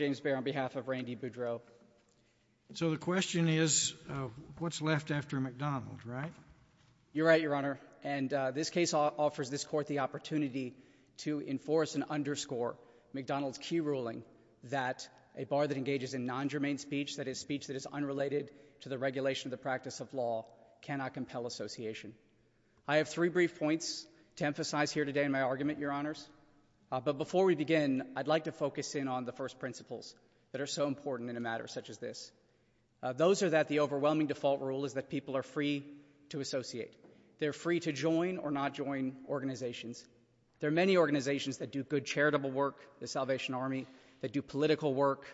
on behalf of Randy Boudreaux. So the question is, what's left after McDonald's, right? You're right, Your Honor. And this case offers this court the opportunity to enforce and underscore McDonald's key ruling that a bar that engages in non-germane speech, that is, speech that is unrelated to the regulation of the practice of law, cannot compel association. I have three brief points to emphasize here today in my argument, Your Honors. But before we begin, I'd like to focus in on the first principles that are so important in a matter such as this. Those are that the overwhelming default rule is that people are free to associate. They're free to join or not join organizations. There are many organizations that do good charitable work, the Salvation Army, that do political work,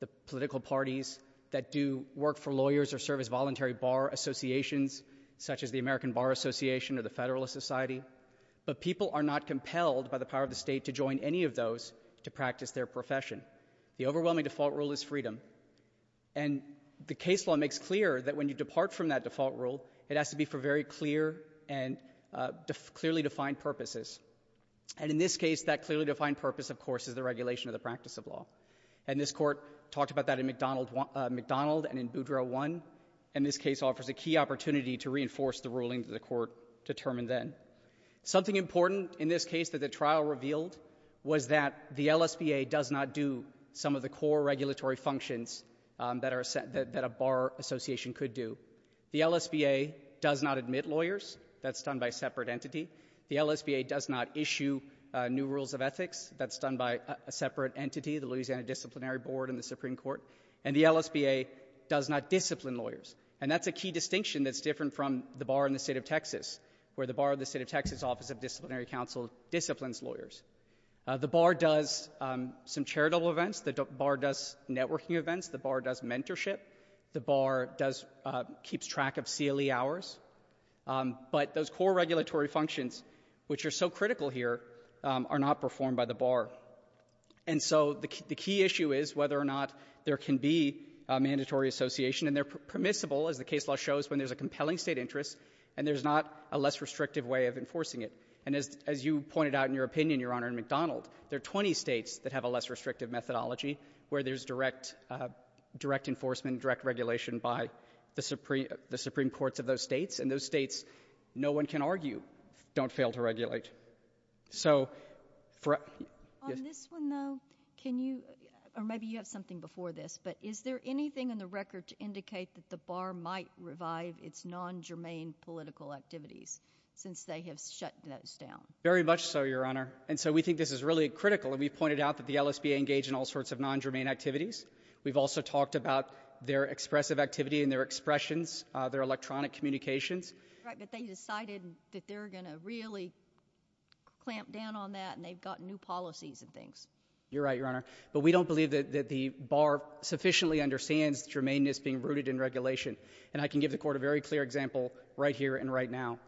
the political parties, that do work for lawyers or serve as voluntary bar associations, such as the American Bar Association or the Federalist Society. But people are not compelled by the power of the state to join any of those to practice their profession. The overwhelming default rule is freedom. And the case law makes clear that when you depart from that default rule, it has to be for very clear and clearly defined purposes. And in this case, that clearly defined purpose, of course, is the regulation of the practice of law. And this court talked about that in McDonald and in Boudreau I. And this case offers a key opportunity to reinforce the ruling that the court determined then. Something important in this case that the trial revealed was that the LSBA does not do some of the core regulatory functions that a bar association could do. The LSBA does not admit lawyers. That's done by a separate entity. The LSBA does not issue new rules of ethics. That's done by a separate entity, the Louisiana Disciplinary Board and the Supreme Court. And the LSBA does not discipline lawyers. And that's a key distinction that's different from the bar in the state of Texas, where the bar of the state of Texas office of disciplinary counsel disciplines lawyers. The bar does some charitable events. The bar does networking events. The bar does mentorship. The bar keeps track of CLE hours. But those core regulatory functions, which are so critical here, are not performed by the bar. And so the key issue is whether or not there can be a mandatory association. And they're permissible, as the case law shows, when there's a compelling state interest and there's not a less restrictive way of enforcing it. And as you pointed out in your opinion, Your Honor, in McDonald, there are 20 states that have a less restrictive methodology, where there's direct enforcement, direct regulation by the Supreme Courts of those states. And those states, no one can argue, don't fail to regulate. On this one, though, can you, or maybe you have something before this, but is there anything in the record to indicate that the bar might revive its non-germane political activities, since they have shut those down? Very much so, Your Honor. And so we think this is really critical. And we've pointed out that the LSBA engage in all sorts of non-germane activities. We've also talked about their expressive activity and their expressions, their electronic communications. But they decided that they're going to really clamp down on that, and they've got new policies and things. You're right, Your Honor. But we don't believe that the bar sufficiently understands germaneness being rooted in regulation. And I can give the Court a very clear example right here and right now.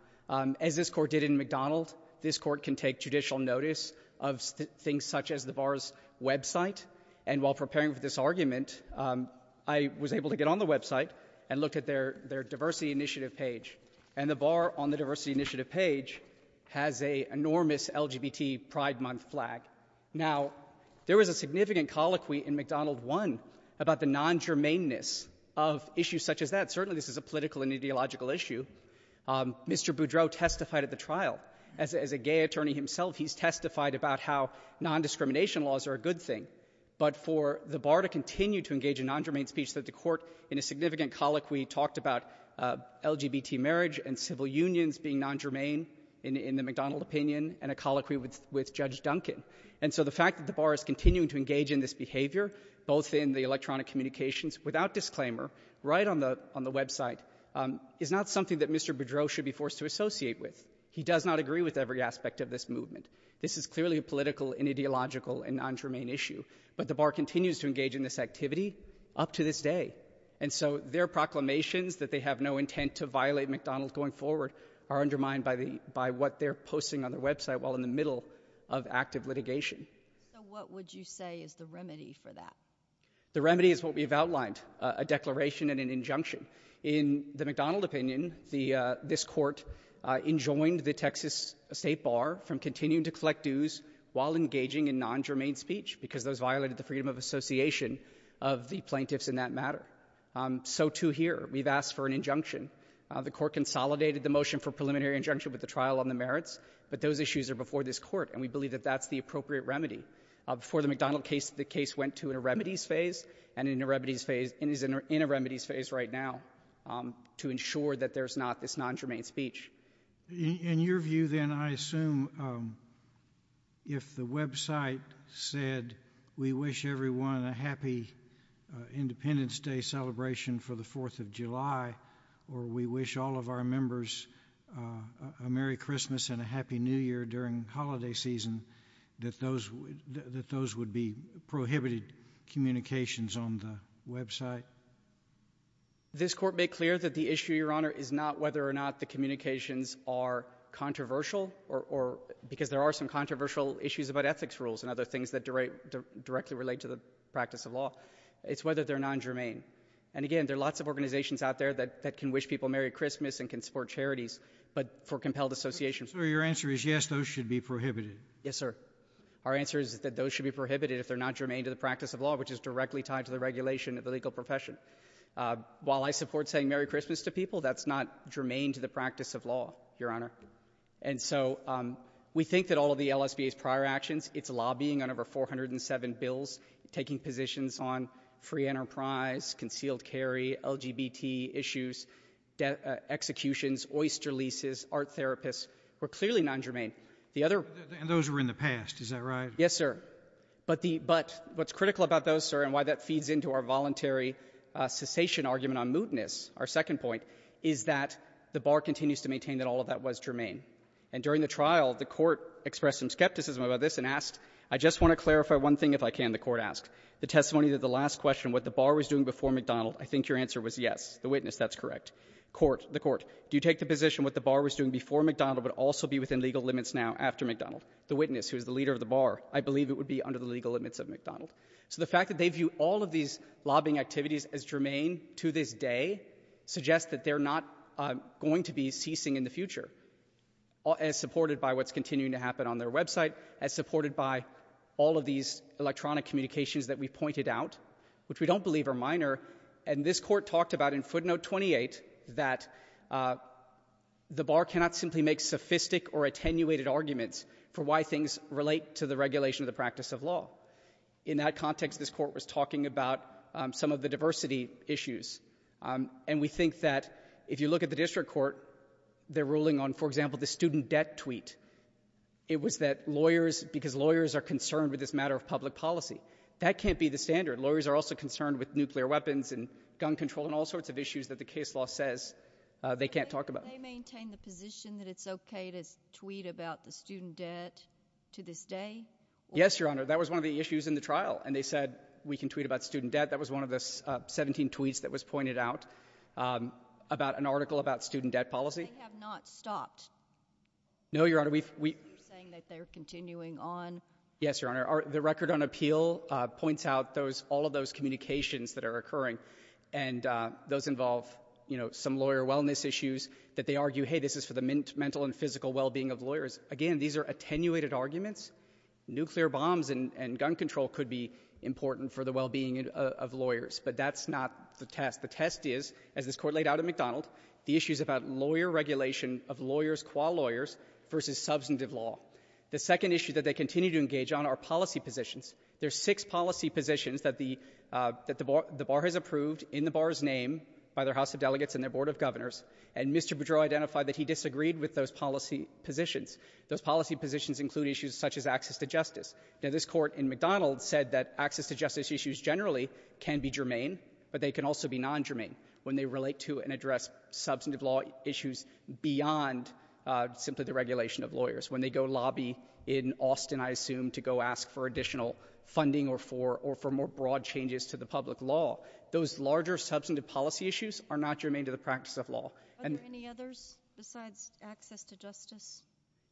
As this Court did in McDonald, this Court can take judicial notice of things such as the bar's website. And while preparing for this argument, I was able to get on the website and look at their diversity initiative page. And the bar on the diversity initiative page has a enormous LGBT Pride Month flag. Now, there was a significant colloquy in McDonald 1 about the non-germaneness of issues such as that. Certainly, this is a political and ideological issue. Mr. Boudreau testified at the trial. As a gay attorney himself, he's testified about how non-discrimination laws are a good thing. But for the bar to continue to engage in non-germane speech, the Court, in a significant colloquy, talked about LGBT marriage and civil unions being non-germane in the McDonald opinion, and a colloquy with Judge Duncan. And so the fact that the bar is continuing to engage in this behavior, both in the electronic communications, without disclaimer, right on the website, is not something that Mr. Boudreau should be forced to associate with. He does not agree with every aspect of this movement. This is clearly a political and ideological and non-germane issue. But the bar continues to engage in this activity up to this day. And so their proclamations that they have no intent to violate McDonald going forward are undermined by what they're posting on their website while in the middle of active litigation. So what would you say is the remedy for that? The remedy is what we've outlined, a declaration and an injunction. In the McDonald opinion, this Court enjoined the Texas State Bar from continuing to collect dues while engaging in non-germane speech, because those violated the freedom of association of the plaintiffs in that matter. So, too, here, we've asked for an injunction. The Court consolidated the motion for preliminary injunction with the trial on the merits. But those issues are before this Court. And we believe that that's the appropriate remedy. Before the McDonald case, the case went to a remedies phase and is in a remedies phase right now to ensure that there's not this non-germane speech. In your view, then, I assume if the website said, we wish everyone a happy Independence Day celebration for the 4th of July, or we wish all of our members a Merry Christmas and a Happy New Year during holiday season, that those would be prohibited communications on the website? This Court made clear that the issue, Your Honor, is not whether or not the communications are controversial, because there are some controversial issues about ethics rules and other things that directly relate to the practice of law. It's whether they're non-germane. And again, there are lots of organizations out there that can wish people Merry Christmas and can support charities, but for compelled associations. So your answer is, yes, those should be prohibited? Yes, sir. Our answer is that those should be prohibited if they're not germane to the practice of law, which is directly tied to the regulation of the legal profession. While I support saying Merry Christmas to people, that's not germane to the practice of law, Your Honor. And so we think that all of the LSBA's prior actions, it's lobbying on over 407 bills, taking positions on free enterprise, concealed carry, LGBT issues, executions, oyster leases, art therapists, were clearly non-germane. The other- And those were in the past, is that right? Yes, sir. But what's critical about those, sir, and why that feeds into our voluntary cessation argument on mootness, our second point, is that the bar continues to maintain that all of that was germane. And during the trial, the court expressed some skepticism about this and asked, I just want to clarify one thing if I can, the court asked. The testimony that the last question, what the bar was doing before McDonald, I think your answer was yes. The witness, that's correct. Court, the court, do you take the position what the bar was doing before McDonald but also be within legal limits now after McDonald? The witness, who is the leader of the bar, I believe it would be under the legal limits of McDonald. So the fact that they view all of these lobbying activities as germane to this day suggests that they're not going to be ceasing in the future, as supported by what's continuing to happen on their website, as supported by all of these electronic communications that we pointed out, which we don't believe are minor, and this court talked about in footnote 28 that the bar cannot simply make sophistic or attenuated arguments for why things relate to the regulation of the practice of law. In that context, this court was talking about some of the diversity issues. And we think that if you look at the district court, they're ruling on, for example, the student debt tweet. It was that lawyers, because lawyers are concerned with this matter of public policy. That can't be the standard. Lawyers are also concerned with nuclear weapons and gun control and all sorts of issues that the case law says they can't talk about. Do they maintain the position that it's OK to tweet about the student debt to this day? Yes, Your Honor. That was one of the issues in the trial. And they said, we can tweet about student debt. That was one of the 17 tweets that was pointed out about an article about student debt policy. But they have not stopped. No, Your Honor. You're saying that they're continuing on. Yes, Your Honor. The record on appeal points out all of those communications that are occurring. And those involve some lawyer wellness issues that they argue, hey, this is for the mental and physical well-being of lawyers. Again, these are attenuated arguments. Nuclear bombs and gun control could be important for the well-being of lawyers. But that's not the test. The test is, as this court laid out at McDonald, the issues about lawyer regulation of lawyers qua lawyers versus substantive law. The second issue that they continue to engage on are policy positions. There's six policy positions that the bar has approved in the bar's name by their House of Delegates and their Board of Governors. And Mr. Boudreau identified that he disagreed with those policy positions. Those policy positions include issues such as access to justice. Now, this court in McDonald said that access to justice issues generally can be germane. But they can also be non-germane when they relate to and address substantive law issues beyond simply the regulation of lawyers. When they go lobby in Austin, I assume, to go ask for additional funding or for more broad changes to the public law. Those larger substantive policy issues are not germane to the practice of law. Are there any others besides access to justice?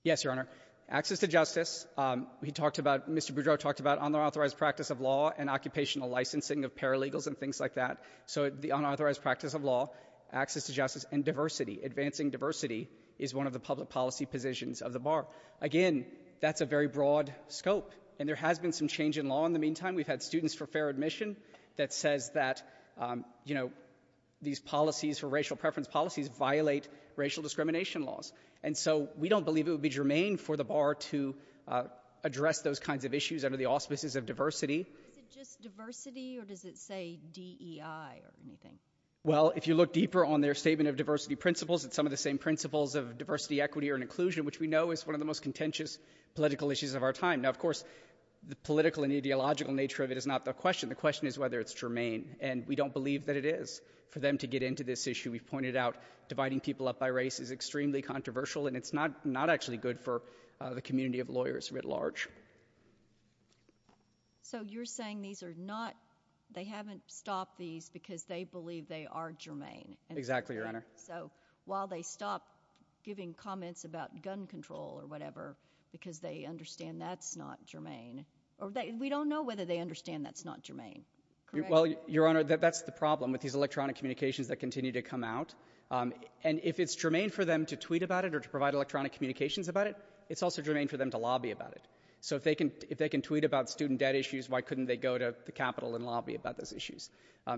Yes, Your Honor. Access to justice, Mr. Boudreau talked about unauthorized practice of law and occupational licensing of paralegals and things like that. So the unauthorized practice of law, access to justice, and diversity, advancing diversity is one of the public policy positions of the bar. Again, that's a very broad scope. And there has been some change in law in the meantime. We've had students for fair admission that says that these policies for racial preference policies violate racial discrimination laws. And so we don't believe it would be germane for the bar to address those kinds of issues under the auspices of diversity. Is it just diversity, or does it say DEI or anything? Well, if you look deeper on their statement of diversity principles, it's some of the same principles of diversity, equity, or inclusion, which we know is one of the most contentious political issues of our time. Now, of course, the political and ideological nature of it is not the question. The question is whether it's germane. And we don't believe that it is for them to get into this issue. We've pointed out dividing people up by race is extremely controversial. And it's not actually good for the community of lawyers writ large. So you're saying these are not, they haven't stopped these because they believe they are germane. Exactly, Your Honor. So while they stop giving comments about gun control or whatever because they understand that's not germane, or we don't know whether they understand that's not germane. Well, Your Honor, that's the problem with these electronic communications that continue to come out. And if it's germane for them to tweet about it or to provide electronic communications about it, it's also germane for them to lobby about it. So if they can tweet about student debt issues, why couldn't they go to the Capitol and lobby about those issues?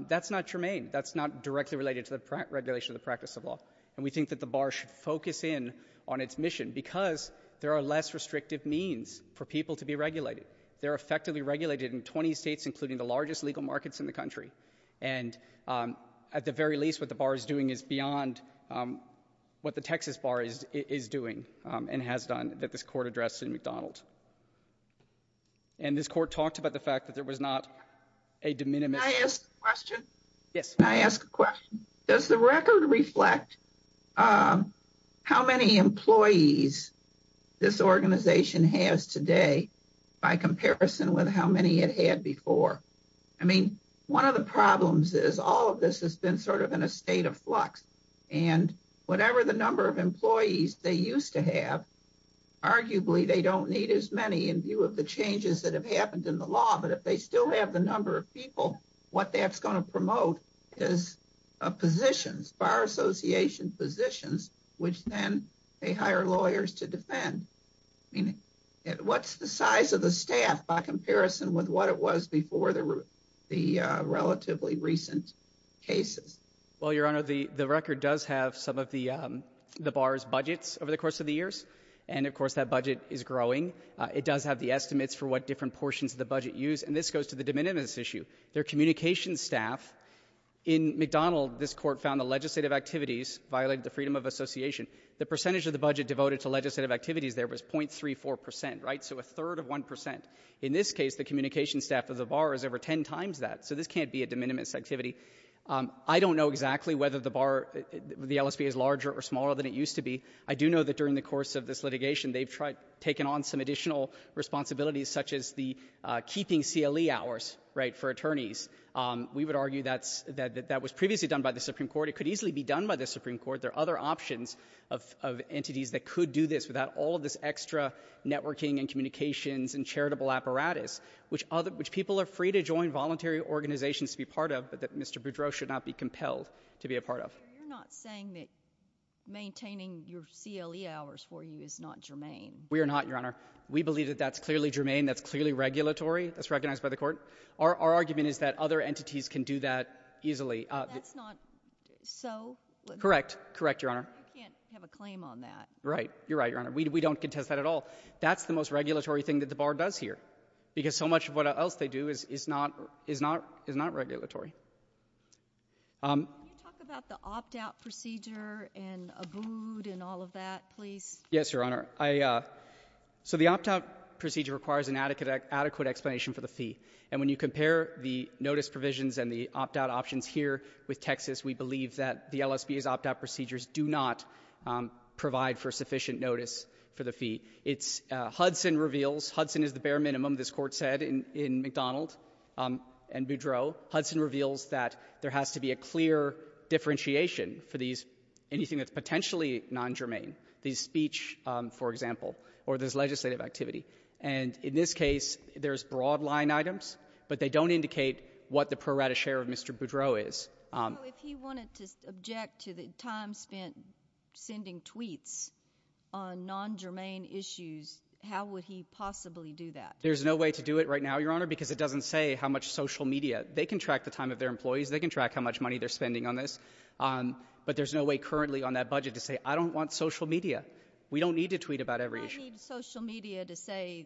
That's not germane. That's not directly related to the regulation or the practice of law. And we think that the bar should focus in on its mission because there are less restrictive means for people to be regulated. They're effectively regulated in 20 states, including the largest legal markets in the country. And at the very least, what the bar is doing is beyond what the Texas bar is doing and has done that this court addressed in McDonald. And this court talked about the fact that there was not a de minimis. Can I ask a question? Yes. Can I ask a question? Does the record reflect how many employees this organization has today by comparison with how many it had before? I mean, one of the problems is all of this has been sort of in a state of flux. And whatever the number of employees they used to have, arguably, they don't need as many in view of the changes that have happened in the law. But if they still have the number of people, what that's going to promote is positions, bar association positions, which then they hire lawyers to defend. What's the size of the staff by comparison with what it was before the relatively recent cases? Well, Your Honor, the record does have some of the bar's budgets over the course of the years. And of course, that budget is growing. It does have the estimates for what different portions of the budget use. And this goes to the de minimis issue. Their communications staff, in McDonald, this court found the legislative activities violated the freedom of association. The percentage of the budget devoted to legislative activities there was 0.34%, right? So a third of 1%. In this case, the communications staff of the bar is over 10 times that. So this can't be a de minimis activity. I don't know exactly whether the LSBA is larger or smaller than it used to be. I do know that during the course of this litigation, they've taken on some additional responsibilities, such as the keeping CLE hours, right, for attorneys. We would argue that that was previously done by the Supreme Court. It could easily be done by the Supreme Court. There are other options of entities that could do this without all of this extra networking and communications and charitable apparatus, which people are free to join voluntary organizations to be part of, but that Mr. Boudreaux should not be compelled to be a part of. So you're not saying that maintaining your CLE hours for you is not germane? We are not, Your Honor. We believe that that's clearly germane. That's clearly regulatory. That's recognized by the court. Our argument is that other entities can do that easily. That's not so? Correct. Correct, Your Honor. You can't have a claim on that. Right. You're right, Your Honor. We don't contest that at all. That's the most regulatory thing that the bar does here, because so much of what else they do is not regulatory. Can you talk about the opt-out procedure and ABOOD and all of that, please? Yes, Your Honor. So the opt-out procedure requires an adequate explanation for the fee. And when you compare the notice provisions and the opt-out options here with Texas, we believe that the LSBA's opt-out procedures do not provide for sufficient notice for the fee. It's — Hudson reveals — Hudson is the bare minimum, this Court said, in McDonald and Boudreaux. Hudson reveals that there has to be a clear differentiation for these — anything that's potentially non-germane. The speech, for example, or there's legislative activity. And in this case, there's broad line items, but they don't indicate what the pro rata share of Mr. Boudreaux is. So if he wanted to object to the time spent sending tweets on non-germane issues, how would he possibly do that? There's no way to do it right now, Your Honor, because it doesn't say how much social media. They can track the time of their employees. They can track how much money they're spending on this. But there's no way currently on that budget to say, I don't want social media. We don't need to tweet about every issue. I need social media to say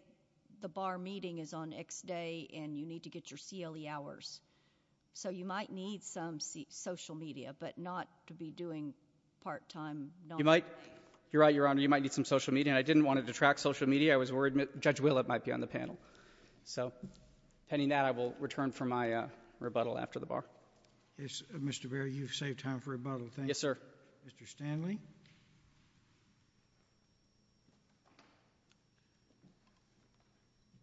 the bar meeting is on X day, and you need to get your CLE hours. So you might need some social media, but not to be doing part-time non-germane. You might — you're right, Your Honor. You might need some social media. And I didn't want to detract social media. I was worried Judge Willett might be on the panel. So, pending that, I will return for my rebuttal after the bar. Yes, Mr. Berry, you've saved time for rebuttal. Yes, sir. Mr. Stanley.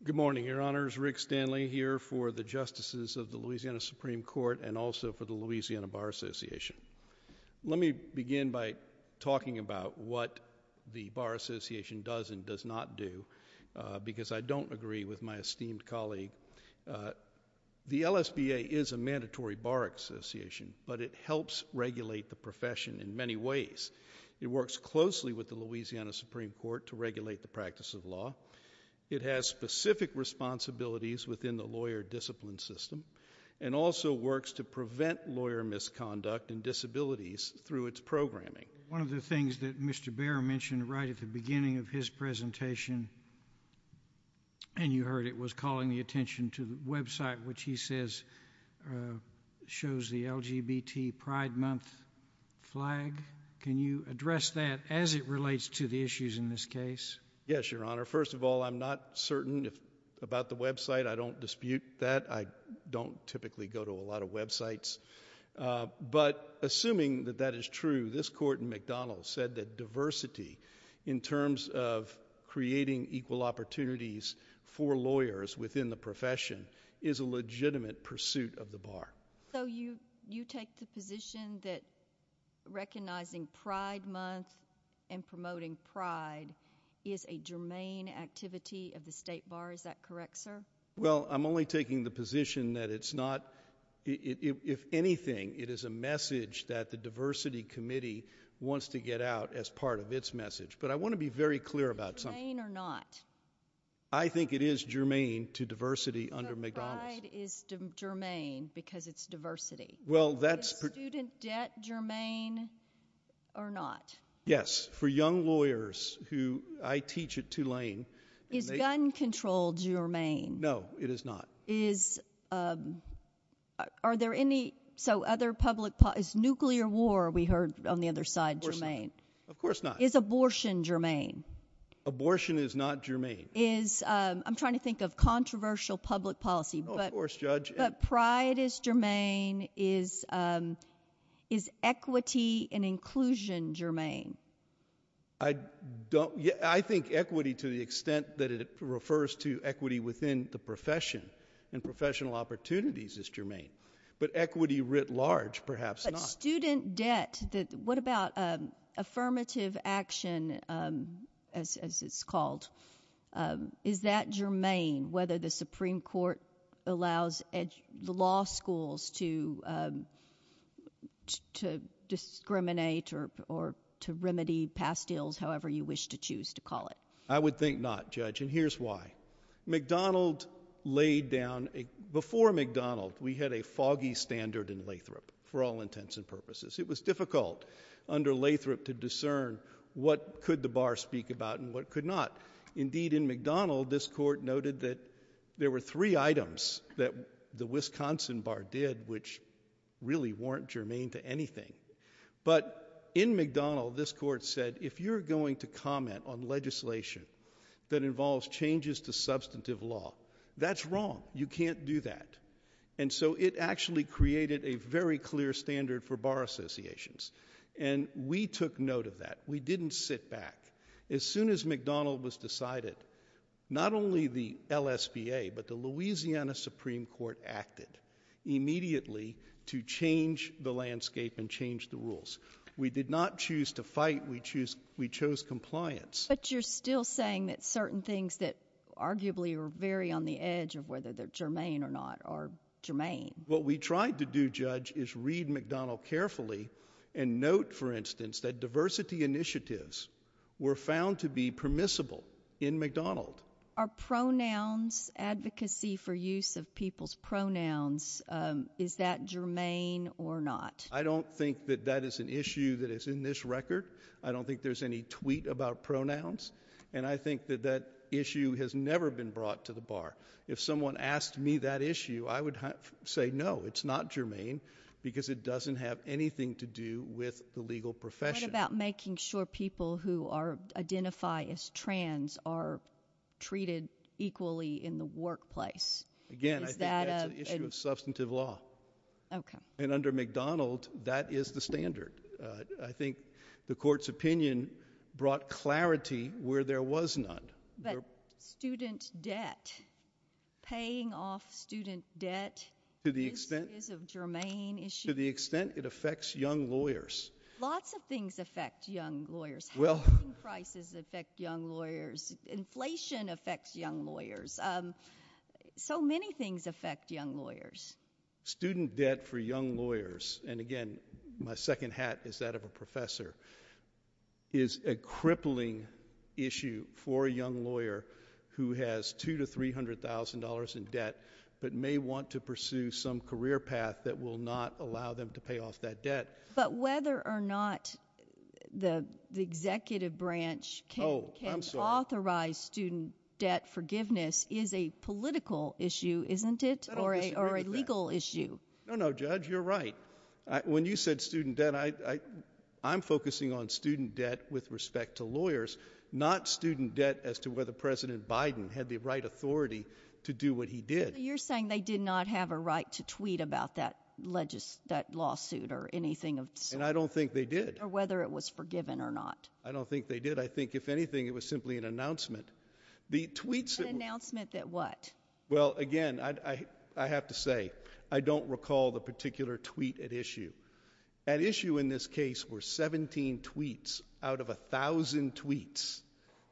Good morning, Your Honors. Rick Stanley here for the justices of the Louisiana Supreme Court and also for the Louisiana Bar Association. Let me begin by talking about what the Bar Association does and does not do, because I don't agree with my esteemed colleague. The LSBA is a mandatory bar association, but it helps regulate the profession in many ways. It works closely with the Louisiana Supreme Court to regulate the practice of law. It has specific responsibilities within the lawyer discipline system and also works to prevent lawyer misconduct and disabilities through its programming. One of the things that Mr. Baer mentioned right at the beginning of his presentation, and you heard it, was calling the attention to the website which he says shows the LGBT Pride Month flag. Can you address that as it relates to the issues in this case? Yes, Your Honor. First of all, I'm not certain about the website. I don't dispute that. I don't typically go to a lot of websites, but assuming that that is true, this court in McDonald's said that diversity in terms of creating equal opportunities for lawyers within the profession is a legitimate pursuit of the bar. So you take the position that recognizing Pride Month and promoting pride is a germane activity of the state bar. Is that correct, sir? Well, I'm only taking the position that it's not. If anything, it is a message that the Diversity Committee wants to get out as part of its message, but I want to be very clear about something. Is it germane or not? I think it is germane to diversity under McDonald's. But Pride is germane because it's diversity. Well, that's... Is student debt germane or not? Yes. For young lawyers who I teach at Tulane... Is gun control germane? No, it is not. Are there any... So other public... Is nuclear war, we heard on the other side, germane? Of course not. Of course not. Is abortion germane? Abortion is not germane. Is... I'm trying to think of controversial public policy, but Pride is germane. Is equity and inclusion germane? I don't... Yeah, I think equity to the extent that it refers to equity within the profession and professional opportunities is germane. But equity writ large, perhaps not. But student debt... What about affirmative action, as it's called? Is that germane, whether the Supreme Court allows law schools to discriminate or to remedy past deals, however you wish to choose to call it? I would think not, Judge, and here's why. McDonald laid down... Before McDonald, we had a foggy standard in Lathrop, for all intents and purposes. It was difficult under Lathrop to discern what could the bar speak about and what could not. Indeed, in McDonald, this court noted that there were three items that the Wisconsin bar did, which really weren't germane to anything. But in McDonald, this court said, if you're going to comment on legislation that involves changes to substantive law, that's wrong, you can't do that. And so it actually created a very clear standard for bar associations. And we took note of that. We didn't sit back. As soon as McDonald was decided, not only the LSBA, but the Louisiana Supreme Court acted immediately to change the landscape and change the rules. We did not choose to fight, we chose compliance. But you're still saying that certain things that arguably are very on the edge of whether they're germane or not are germane. What we tried to do, Judge, is read McDonald carefully and note, for instance, that diversity initiatives were found to be permissible in McDonald. Are pronouns, advocacy for use of people's pronouns, is that germane or not? I don't think that that is an issue that is in this record. I don't think there's any tweet about pronouns. And I think that that issue has never been brought to the bar. If someone asked me that issue, I would say no, it's not germane because it doesn't have anything to do with the legal profession. What about making sure people who identify as trans are treated equally in the workplace? Again, I think that's an issue of substantive law. Okay. And under McDonald, that is the standard. I think the court's opinion brought clarity where there was none. But student debt, paying off student debt is a germane issue. To the extent it affects young lawyers. Lots of things affect young lawyers. Housing prices affect young lawyers. Inflation affects young lawyers. So many things affect young lawyers. Student debt for young lawyers, and again, my second hat is that of a professor, is a crippling issue for a young lawyer who has $200,000 to $300,000 in debt but may want to pursue some career path that will not allow them to pay off that debt. But whether or not the executive branch can authorize student debt forgiveness is a political issue, isn't it, or a legal issue? No, no, Judge, you're right. When you said student debt, I'm focusing on student debt with respect to lawyers, not student debt as to whether President Biden had the right authority to do what he did. You're saying they did not have a right to tweet about that lawsuit or anything of the sort? And I don't think they did. Or whether it was forgiven or not. I don't think they did. I think, if anything, it was simply an announcement. The tweets that were- An announcement that what? Well, again, I have to say, I don't recall the particular tweet at issue. At issue in this case were 17 tweets out of 1,000 tweets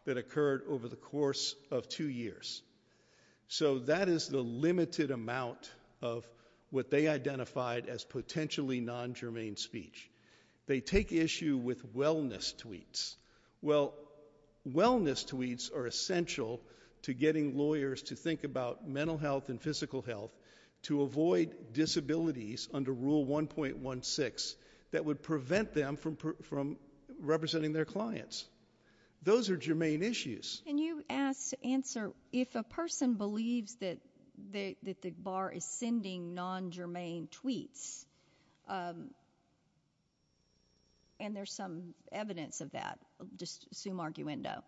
that occurred over the course of two years. So that is the limited amount of what they identified as potentially non-germane speech. They take issue with wellness tweets. Well, wellness tweets are essential to getting lawyers to think about mental health and physical health to avoid disabilities under Rule 1.16 that would prevent them from representing their clients. Those are germane issues. Can you answer, if a person believes that the bar is sending non-germane tweets, and there's some evidence of that, just assume arguendo,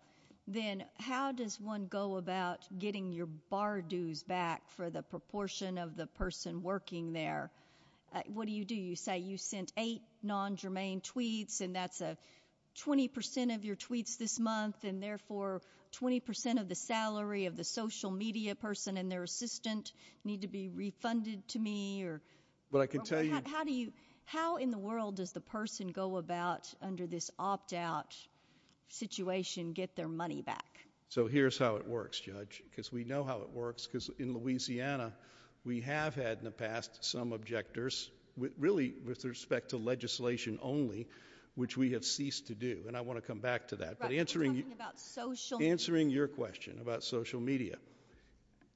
then how does one go about getting your bar dues back for the proportion of the person working there? What do you do? You say you sent eight non-germane tweets, and that's 20% of your tweets this month, and therefore 20% of the salary of the social media person and their assistant need to be refunded to me, or? Well, I can tell you- How do you, how in the world does the person go about under this opt-out situation get their money back? So here's how it works, Judge, because we know how it works, because in Louisiana, we have had in the past some objectors, really with respect to legislation only, which we have ceased to do, and I want to come back to that. But answering- We're talking about social media. Answering your question about social media.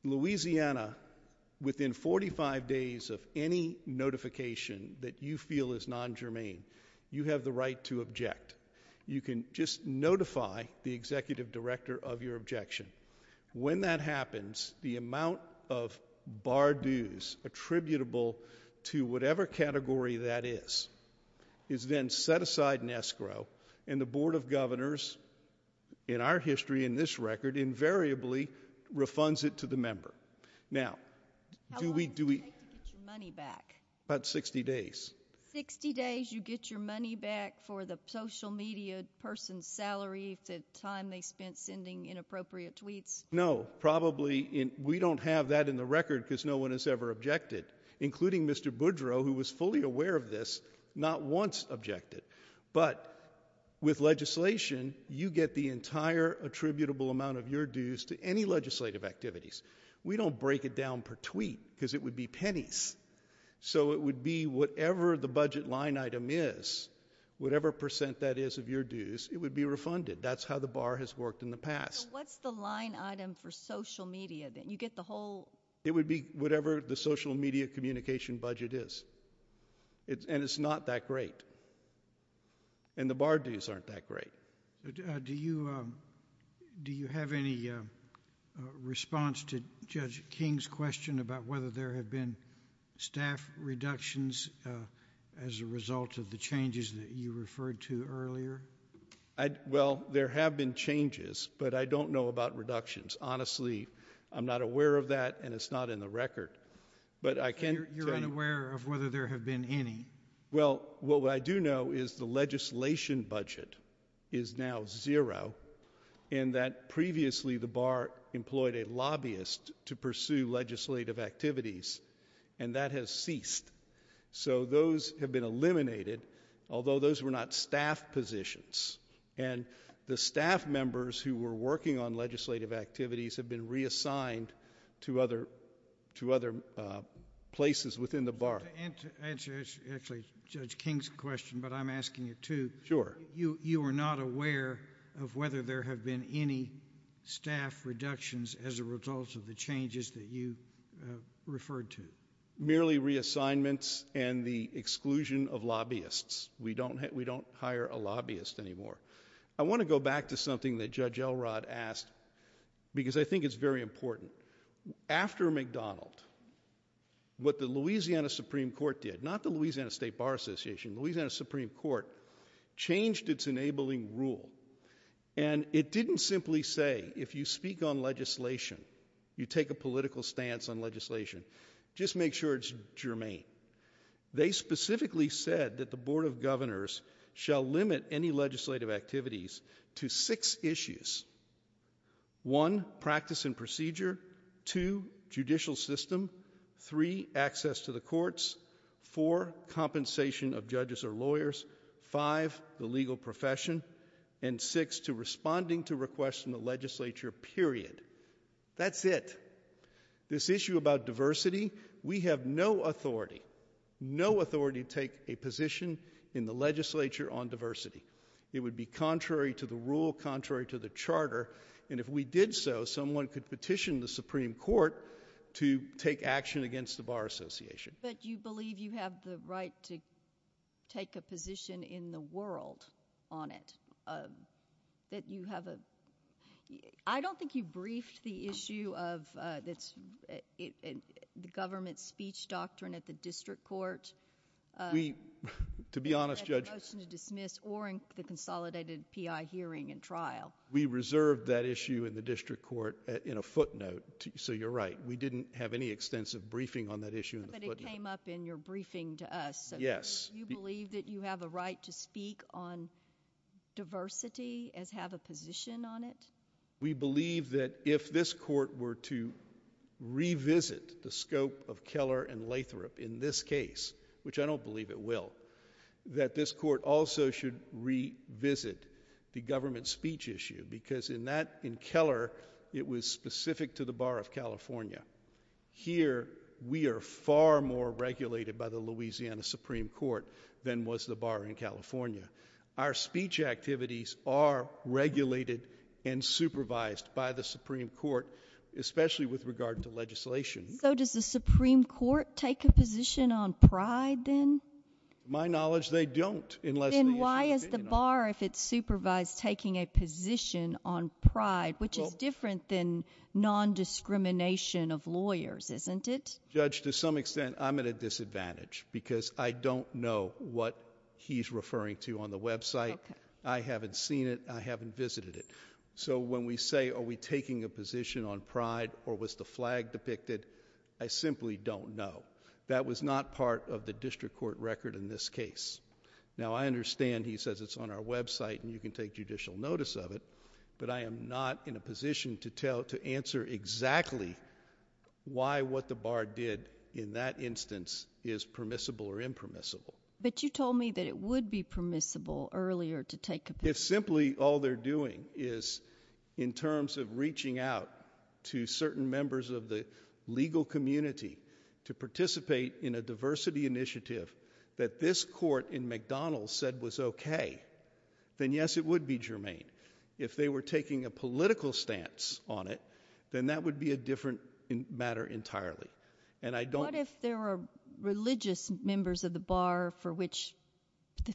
Louisiana, within 45 days of any notification that you feel is non-germane, you have the right to object. You can just notify the executive director of your objection. When that happens, the amount of bar dues attributable to whatever category that is is then set aside in escrow, and the Board of Governors, in our history, in this record, invariably refunds it to the member. Now, do we- How long does it take to get your money back? About 60 days. 60 days you get your money back for the social media person's salary to time they spent sending inappropriate tweets? No, probably, we don't have that in the record because no one has ever objected, including Mr. Boudreau, who was fully aware of this, not once objected. But with legislation, you get the entire attributable amount of your dues to any legislative activities. We don't break it down per tweet, because it would be pennies. So it would be whatever the budget line item is, whatever percent that is of your dues, it would be refunded. That's how the bar has worked in the past. So what's the line item for social media, that you get the whole- It would be whatever the social media communication budget is, and it's not that great. And the bar dues aren't that great. Do you have any response to Judge King's question about whether there have been staff reductions as a result of the changes that you referred to earlier? Well, there have been changes, but I don't know about reductions. Honestly, I'm not aware of that, and it's not in the record. But I can tell you- You're unaware of whether there have been any. Well, what I do know is the legislation budget is now zero, and that previously the bar employed a lobbyist to pursue legislative activities, and that has ceased. So those have been eliminated, although those were not staff positions. And the staff members who were working on legislative activities have been reassigned to other places within the bar. And to answer actually Judge King's question, but I'm asking it too. Sure. You are not aware of whether there have been any staff reductions as a result of the changes that you referred to? Merely reassignments and the exclusion of lobbyists. We don't hire a lobbyist anymore. I wanna go back to something that Judge Elrod asked, because I think it's very important. After McDonald, what the Louisiana Supreme Court did, not the Louisiana State Bar Association, Louisiana Supreme Court changed its enabling rule. And it didn't simply say, if you speak on legislation, you take a political stance on legislation, just make sure it's germane. They specifically said that the Board of Governors shall limit any legislative activities to six issues. One, practice and procedure. Two, judicial system. Three, access to the courts. Four, compensation of judges or lawyers. Five, the legal profession. And six, to responding to requests from the legislature, period. That's it. This issue about diversity, we have no authority, no authority to take a position in the legislature on diversity. It would be contrary to the rule, contrary to the charter, and if we did so, someone could petition the Supreme Court to take action against the Bar Association. But you believe you have the right to take a position in the world on it, that you have a, I don't think you briefed the issue of the government's speech doctrine at the district court. To be honest, Judge. Or at the motion to dismiss, or in the consolidated PI hearing and trial. We reserved that issue in the district court in a footnote, so you're right. We didn't have any extensive briefing on that issue in the footnote. But it came up in your briefing to us, so you believe that you have a right to speak on diversity as have a position on it? We believe that if this court were to revisit the scope of Keller and Lathrop in this case, which I don't believe it will, that this court also should revisit the government's speech issue, because in Keller, it was specific to the Bar of California. Here, we are far more regulated by the Louisiana Supreme Court than was the Bar in California. Our speech activities are regulated and supervised by the Supreme Court, especially with regard to legislation. So does the Supreme Court take a position on pride, then? My knowledge, they don't, unless the issue Then why is the Bar, if it's supervised, taking a position on pride, which is different than non-discrimination of lawyers, isn't it? Judge, to some extent, I'm at a disadvantage, because I don't know what he's referring to on the website. I haven't seen it, I haven't visited it. So when we say, are we taking a position on pride, or was the flag depicted, I simply don't know. That was not part of the district court record in this case. Now, I understand he says it's on our website and you can take judicial notice of it, but I am not in a position to answer exactly why what the Bar did in that instance is permissible or impermissible. But you told me that it would be permissible earlier to take a position. If simply all they're doing is, in terms of reaching out to certain members of the legal community to participate in a diversity initiative that this court in McDonald's said was okay, then yes, it would be germane. If they were taking a political stance on it, then that would be a different matter entirely. And I don't- What if there were religious members of the Bar for which,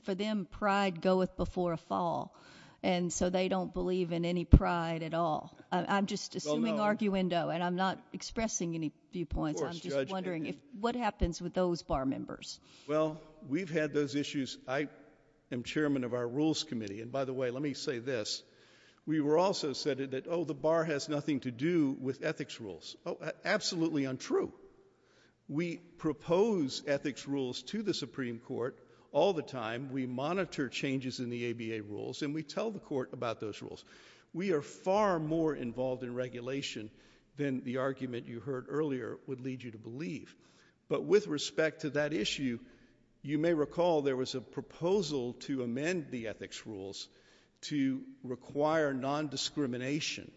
for them, pride goeth before a fall, and so they don't believe in any pride at all? I'm just assuming arguendo, and I'm not expressing any viewpoints. I'm just wondering what happens with those Bar members? Well, we've had those issues. I am chairman of our rules committee, and by the way, let me say this. We were also said that, oh, the Bar has nothing to do with ethics rules. Oh, absolutely untrue. We propose ethics rules to the Supreme Court all the time. We monitor changes in the ABA rules, and we tell the court about those rules. We are far more involved in regulation than the argument you heard earlier would lead you to believe. But with respect to that issue, you may recall there was a proposal to amend the ethics rules to require nondiscrimination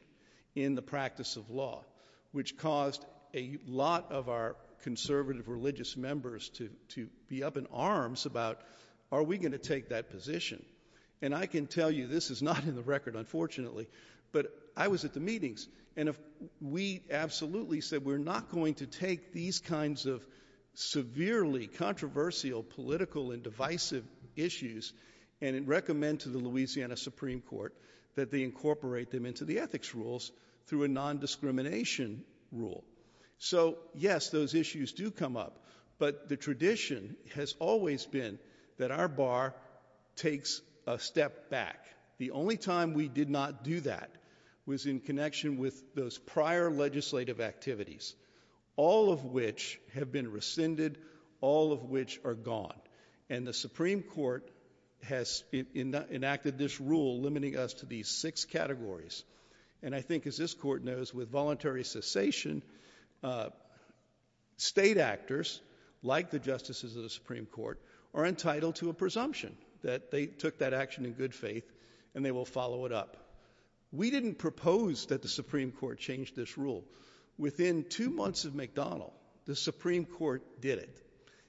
in the practice of law, which caused a lot of our conservative religious members to be up in arms about, are we gonna take that position? And I can tell you this is not in the record, unfortunately, but I was at the meetings, and we absolutely said we're not going to take these kinds of severely controversial political and divisive issues, and recommend to the Louisiana Supreme Court that they incorporate them into the ethics rules through a nondiscrimination rule. So yes, those issues do come up, but the tradition has always been that our Bar takes a step back. The only time we did not do that was in connection with those prior legislative activities, all of which have been rescinded, all of which are gone. And the Supreme Court has enacted this rule limiting us to these six categories. And I think as this court knows, with voluntary cessation, state actors, like the justices of the Supreme Court, are entitled to a presumption that they took that action in good faith, and they will follow it up. We didn't propose that the Supreme Court change this rule. Within two months of McDonald, the Supreme Court did it,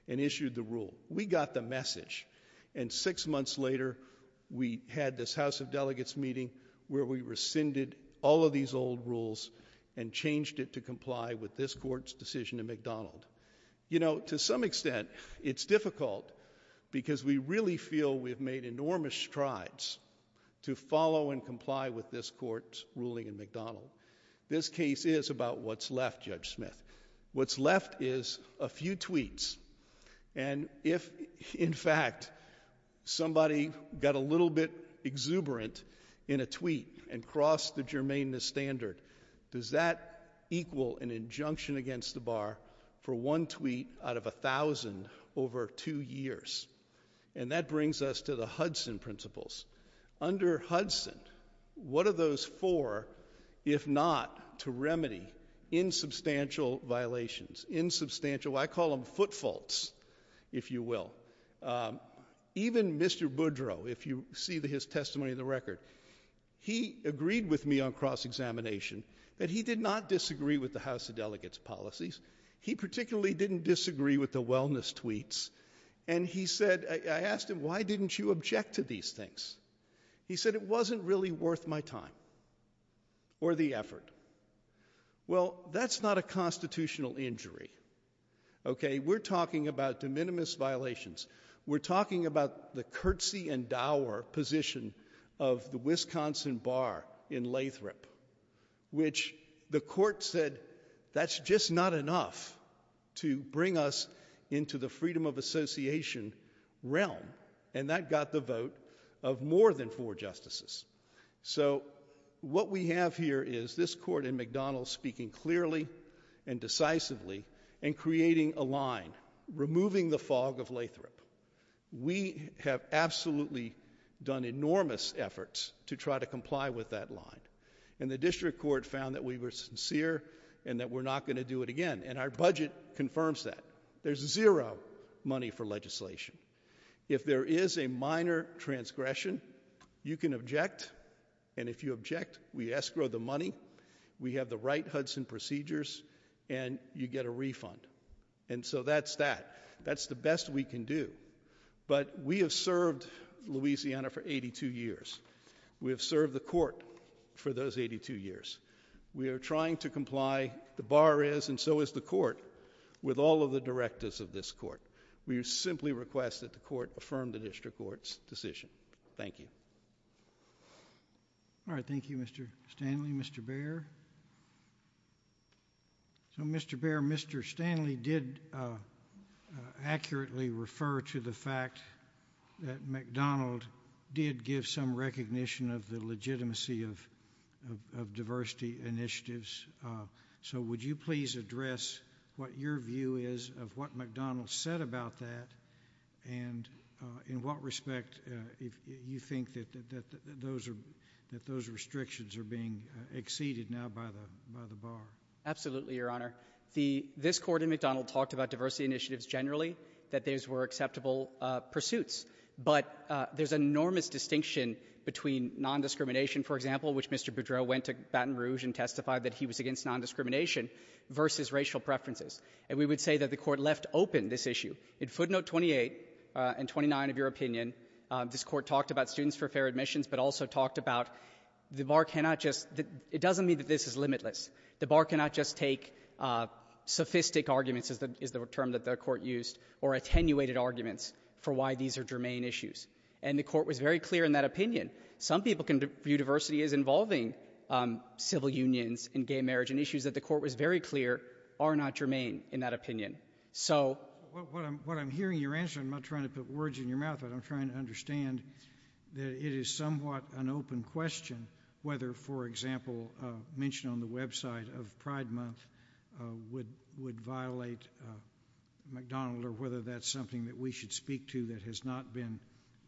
and issued the rule. We got the message. And six months later, we had this House of Delegates meeting where we rescinded all of these old rules, and changed it to comply with this court's decision in McDonald. You know, to some extent, it's difficult, because we really feel we've made enormous strides to follow and comply with this court's ruling in McDonald. This case is about what's left, Judge Smith. What's left is a few tweets. And if, in fact, somebody got a little bit exuberant in a tweet, and crossed the germaneness standard, does that equal an injunction against the bar for one tweet out of 1,000 over two years? And that brings us to the Hudson principles. Under Hudson, what are those four if not to remedy insubstantial violations? Insubstantial, I call them foot faults, if you will. Even Mr. Boudreau, if you see his testimony in the record, he agreed with me on cross-examination that he did not disagree with the House of Delegates policies. He particularly didn't disagree with the wellness tweets. And he said, I asked him, why didn't you object to these things? He said, it wasn't really worth my time. Or the effort. Well, that's not a constitutional injury. Okay, we're talking about de minimis violations. We're talking about the curtsy and dour position of the Wisconsin bar in Lathrop, which the court said, that's just not enough to bring us into the freedom of association realm. And that got the vote of more than four justices. So what we have here is this court in McDonald's speaking clearly and decisively and creating a line, removing the fog of Lathrop. We have absolutely done enormous efforts to try to comply with that line. And the district court found that we were sincere and that we're not gonna do it again. And our budget confirms that. There's zero money for legislation. If there is a minor transgression, you can object. And if you object, we escrow the money. We have the right Hudson procedures and you get a refund. And so that's that. That's the best we can do. But we have served Louisiana for 82 years. We have served the court for those 82 years. We are trying to comply. The bar is and so is the court with all of the directives of this court. We simply request that the court affirm the district court's decision. Thank you. All right, thank you, Mr. Stanley, Mr. Bair. So Mr. Bair, Mr. Stanley did accurately refer to the fact that McDonald did give some recognition of the legitimacy of diversity initiatives. So would you please address what your view is of what McDonald said about that and in what respect you think that those restrictions are being exceeded now by the bar? Absolutely, Your Honor. This court in McDonald talked about diversity initiatives generally, that these were acceptable pursuits. But there's an enormous distinction between non-discrimination, for example, which Mr. Boudreau went to Baton Rouge and testified that he was against non-discrimination versus racial preferences. And we would say that the court left open this issue. In footnote 28 and 29 of your opinion, this court talked about students for fair admissions, but also talked about the bar cannot just, it doesn't mean that this is limitless. The bar cannot just take sophistic arguments, is the term that the court used, or attenuated arguments for why these are germane issues. And the court was very clear in that opinion. Some people can view diversity as involving civil unions and gay marriage and issues that the court was very clear are not germane in that opinion. So. What I'm hearing your answer, I'm not trying to put words in your mouth, but I'm trying to understand that it is somewhat an open question whether, for example, a mention on the website of Pride Month would violate McDonald or whether that's something that we should speak to that has not been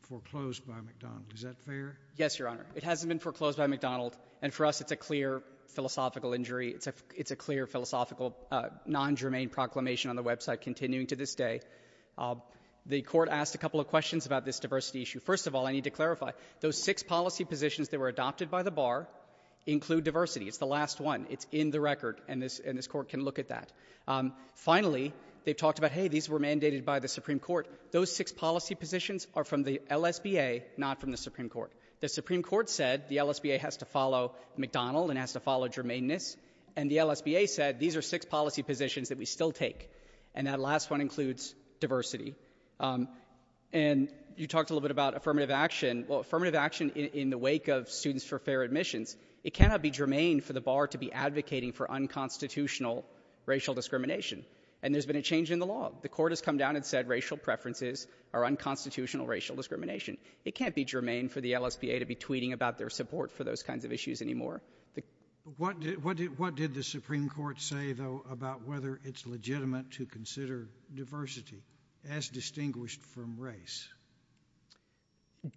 foreclosed by McDonald. Is that fair? Yes, Your Honor. It hasn't been foreclosed by McDonald. And for us, it's a clear philosophical injury. It's a clear philosophical non-germane proclamation on the website continuing to this day. The court asked a couple of questions about this diversity issue. First of all, I need to clarify, those six policy positions that were adopted by the bar include diversity. It's the last one. It's in the record. And this court can look at that. Finally, they've talked about, hey, these were mandated by the Supreme Court. Those six policy positions are from the LSBA, not from the Supreme Court. The Supreme Court said the LSBA has to follow McDonald and has to follow germaneness. And the LSBA said these are six policy positions that we still take. And that last one includes diversity. And you talked a little bit about affirmative action. Well, affirmative action in the wake of students for fair admissions, it cannot be germane for the bar to be advocating for unconstitutional racial discrimination. And there's been a change in the law. The court has come down and said racial preferences are unconstitutional racial discrimination. It can't be germane for the LSBA to be tweeting about their support for those kinds of issues anymore. What did the Supreme Court say, though, about whether it's legitimate to consider diversity as distinguished from race?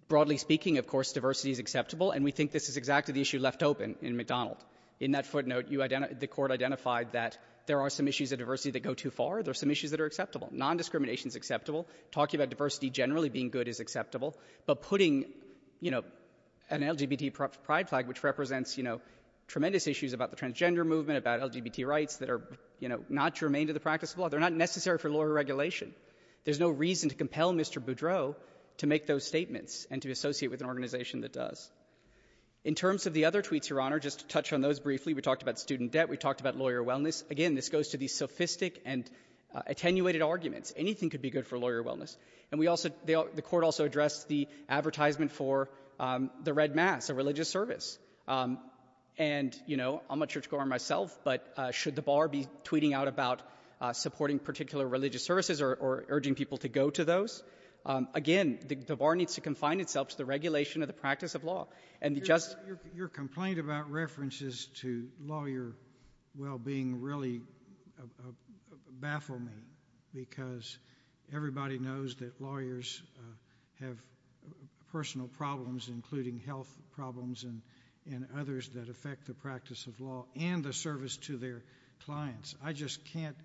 Broadly speaking, of course, diversity is acceptable. And we think this is exactly the issue left open in McDonald. In that footnote, the court identified that there are some issues of diversity that go too far. There are some issues that are acceptable. Non-discrimination is acceptable. Talking about diversity generally being good is acceptable. But putting an LGBT pride flag, which represents tremendous issues about the transgender movement, about LGBT rights that are not germane to the practice of law, they're not necessary for lawyer regulation. There's no reason to compel Mr. Boudreau to make those statements and to associate with an organization that does. In terms of the other tweets, Your Honor, just to touch on those briefly, we talked about student debt, we talked about lawyer wellness. Again, this goes to the sophistic and attenuated arguments. Anything could be good for lawyer wellness. And the court also addressed the advertisement for the Red Mass, a religious service. And I'm not sure it's going on myself, but should the bar be tweeting out about supporting particular religious services or urging people to go to those? Again, the bar needs to confine itself to the regulation of the practice of law. And just- Your complaint about references to lawyer well-being really baffled me because everybody knows that lawyers have personal problems, including health problems and others that affect the practice of law and the service to their clients. I just can't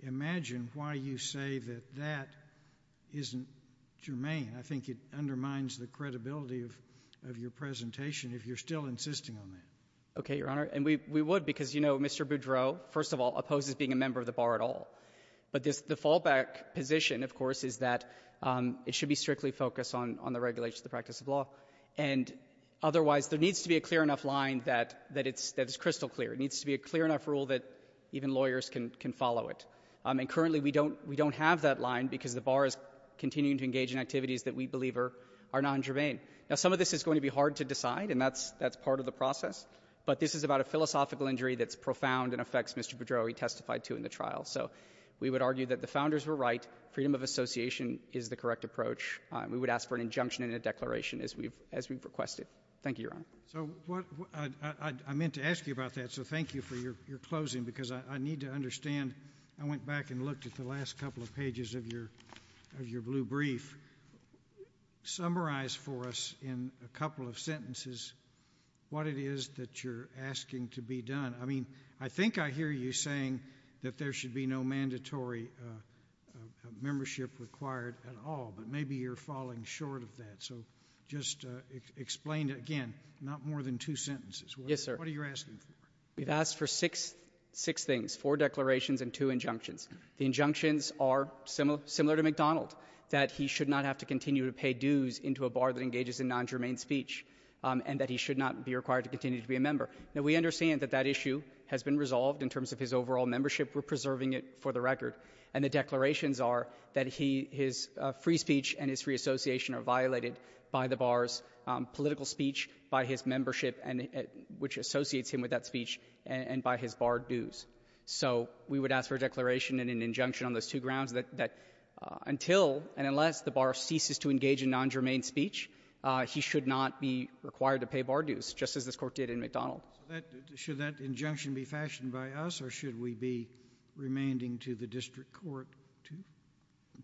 imagine why you say that that isn't germane. I think it undermines the credibility of your presentation if you're still insisting on that. Okay, Your Honor, and we would because, you know, Mr. Boudreau, first of all, opposes being a member of the bar at all. But the fallback position, of course, is that it should be strictly focused on the regulation of the practice of law. And otherwise, there needs to be a clear enough line that it's crystal clear. It needs to be a clear enough rule that even lawyers can follow it. And currently, we don't have that line because the bar is continuing to engage in activities that we believe are non-germane. Now, some of this is going to be hard to decide, and that's part of the process. But this is about a philosophical injury that's profound and affects Mr. Boudreau, he testified to in the trial. So we would argue that the founders were right. Freedom of association is the correct approach. We would ask for an injunction and a declaration as we've requested. Thank you, Your Honor. So I meant to ask you about that, so thank you for your closing. Because I need to understand, I went back and looked at the last couple of pages of your blue brief. Summarize for us in a couple of sentences what it is that you're asking to be done. I mean, I think I hear you saying that there should be no mandatory membership required at all, but maybe you're falling short of that. So just explain again, not more than two sentences. Yes, sir. What are you asking for? We've asked for six things, four declarations and two injunctions. The injunctions are similar to McDonald, that he should not have to continue to pay dues into a bar that engages in non-germane speech, and that he should not be required to continue to be a member. Now, we understand that that issue has been resolved in terms of his overall membership. We're preserving it for the record. And the declarations are that his free speech and his free association are violated by the bar's political speech, by his membership, which associates him with that speech, and by his bar dues. So we would ask for a declaration and an injunction on those two grounds that until and unless the bar ceases to engage in non-germane speech, he should not be required to pay bar dues, just as this Court did in McDonald. Should that injunction be fashioned by us, or should we be remanding to the district court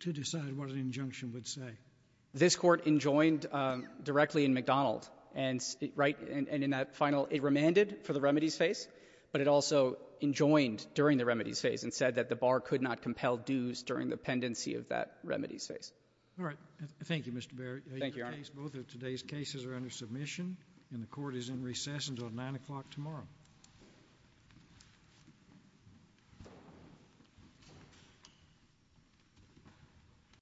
to decide what an injunction would say? This Court enjoined directly in McDonald, and in that final, it remanded for the remedies phase, but it also enjoined during the remedies phase and said that the bar could not compel dues during the pendency of that remedies phase. All right, thank you, Mr. Berry. Thank you, Your Honor. Both of today's cases are under submission, and the Court is in recess until nine o'clock tomorrow. Thank you.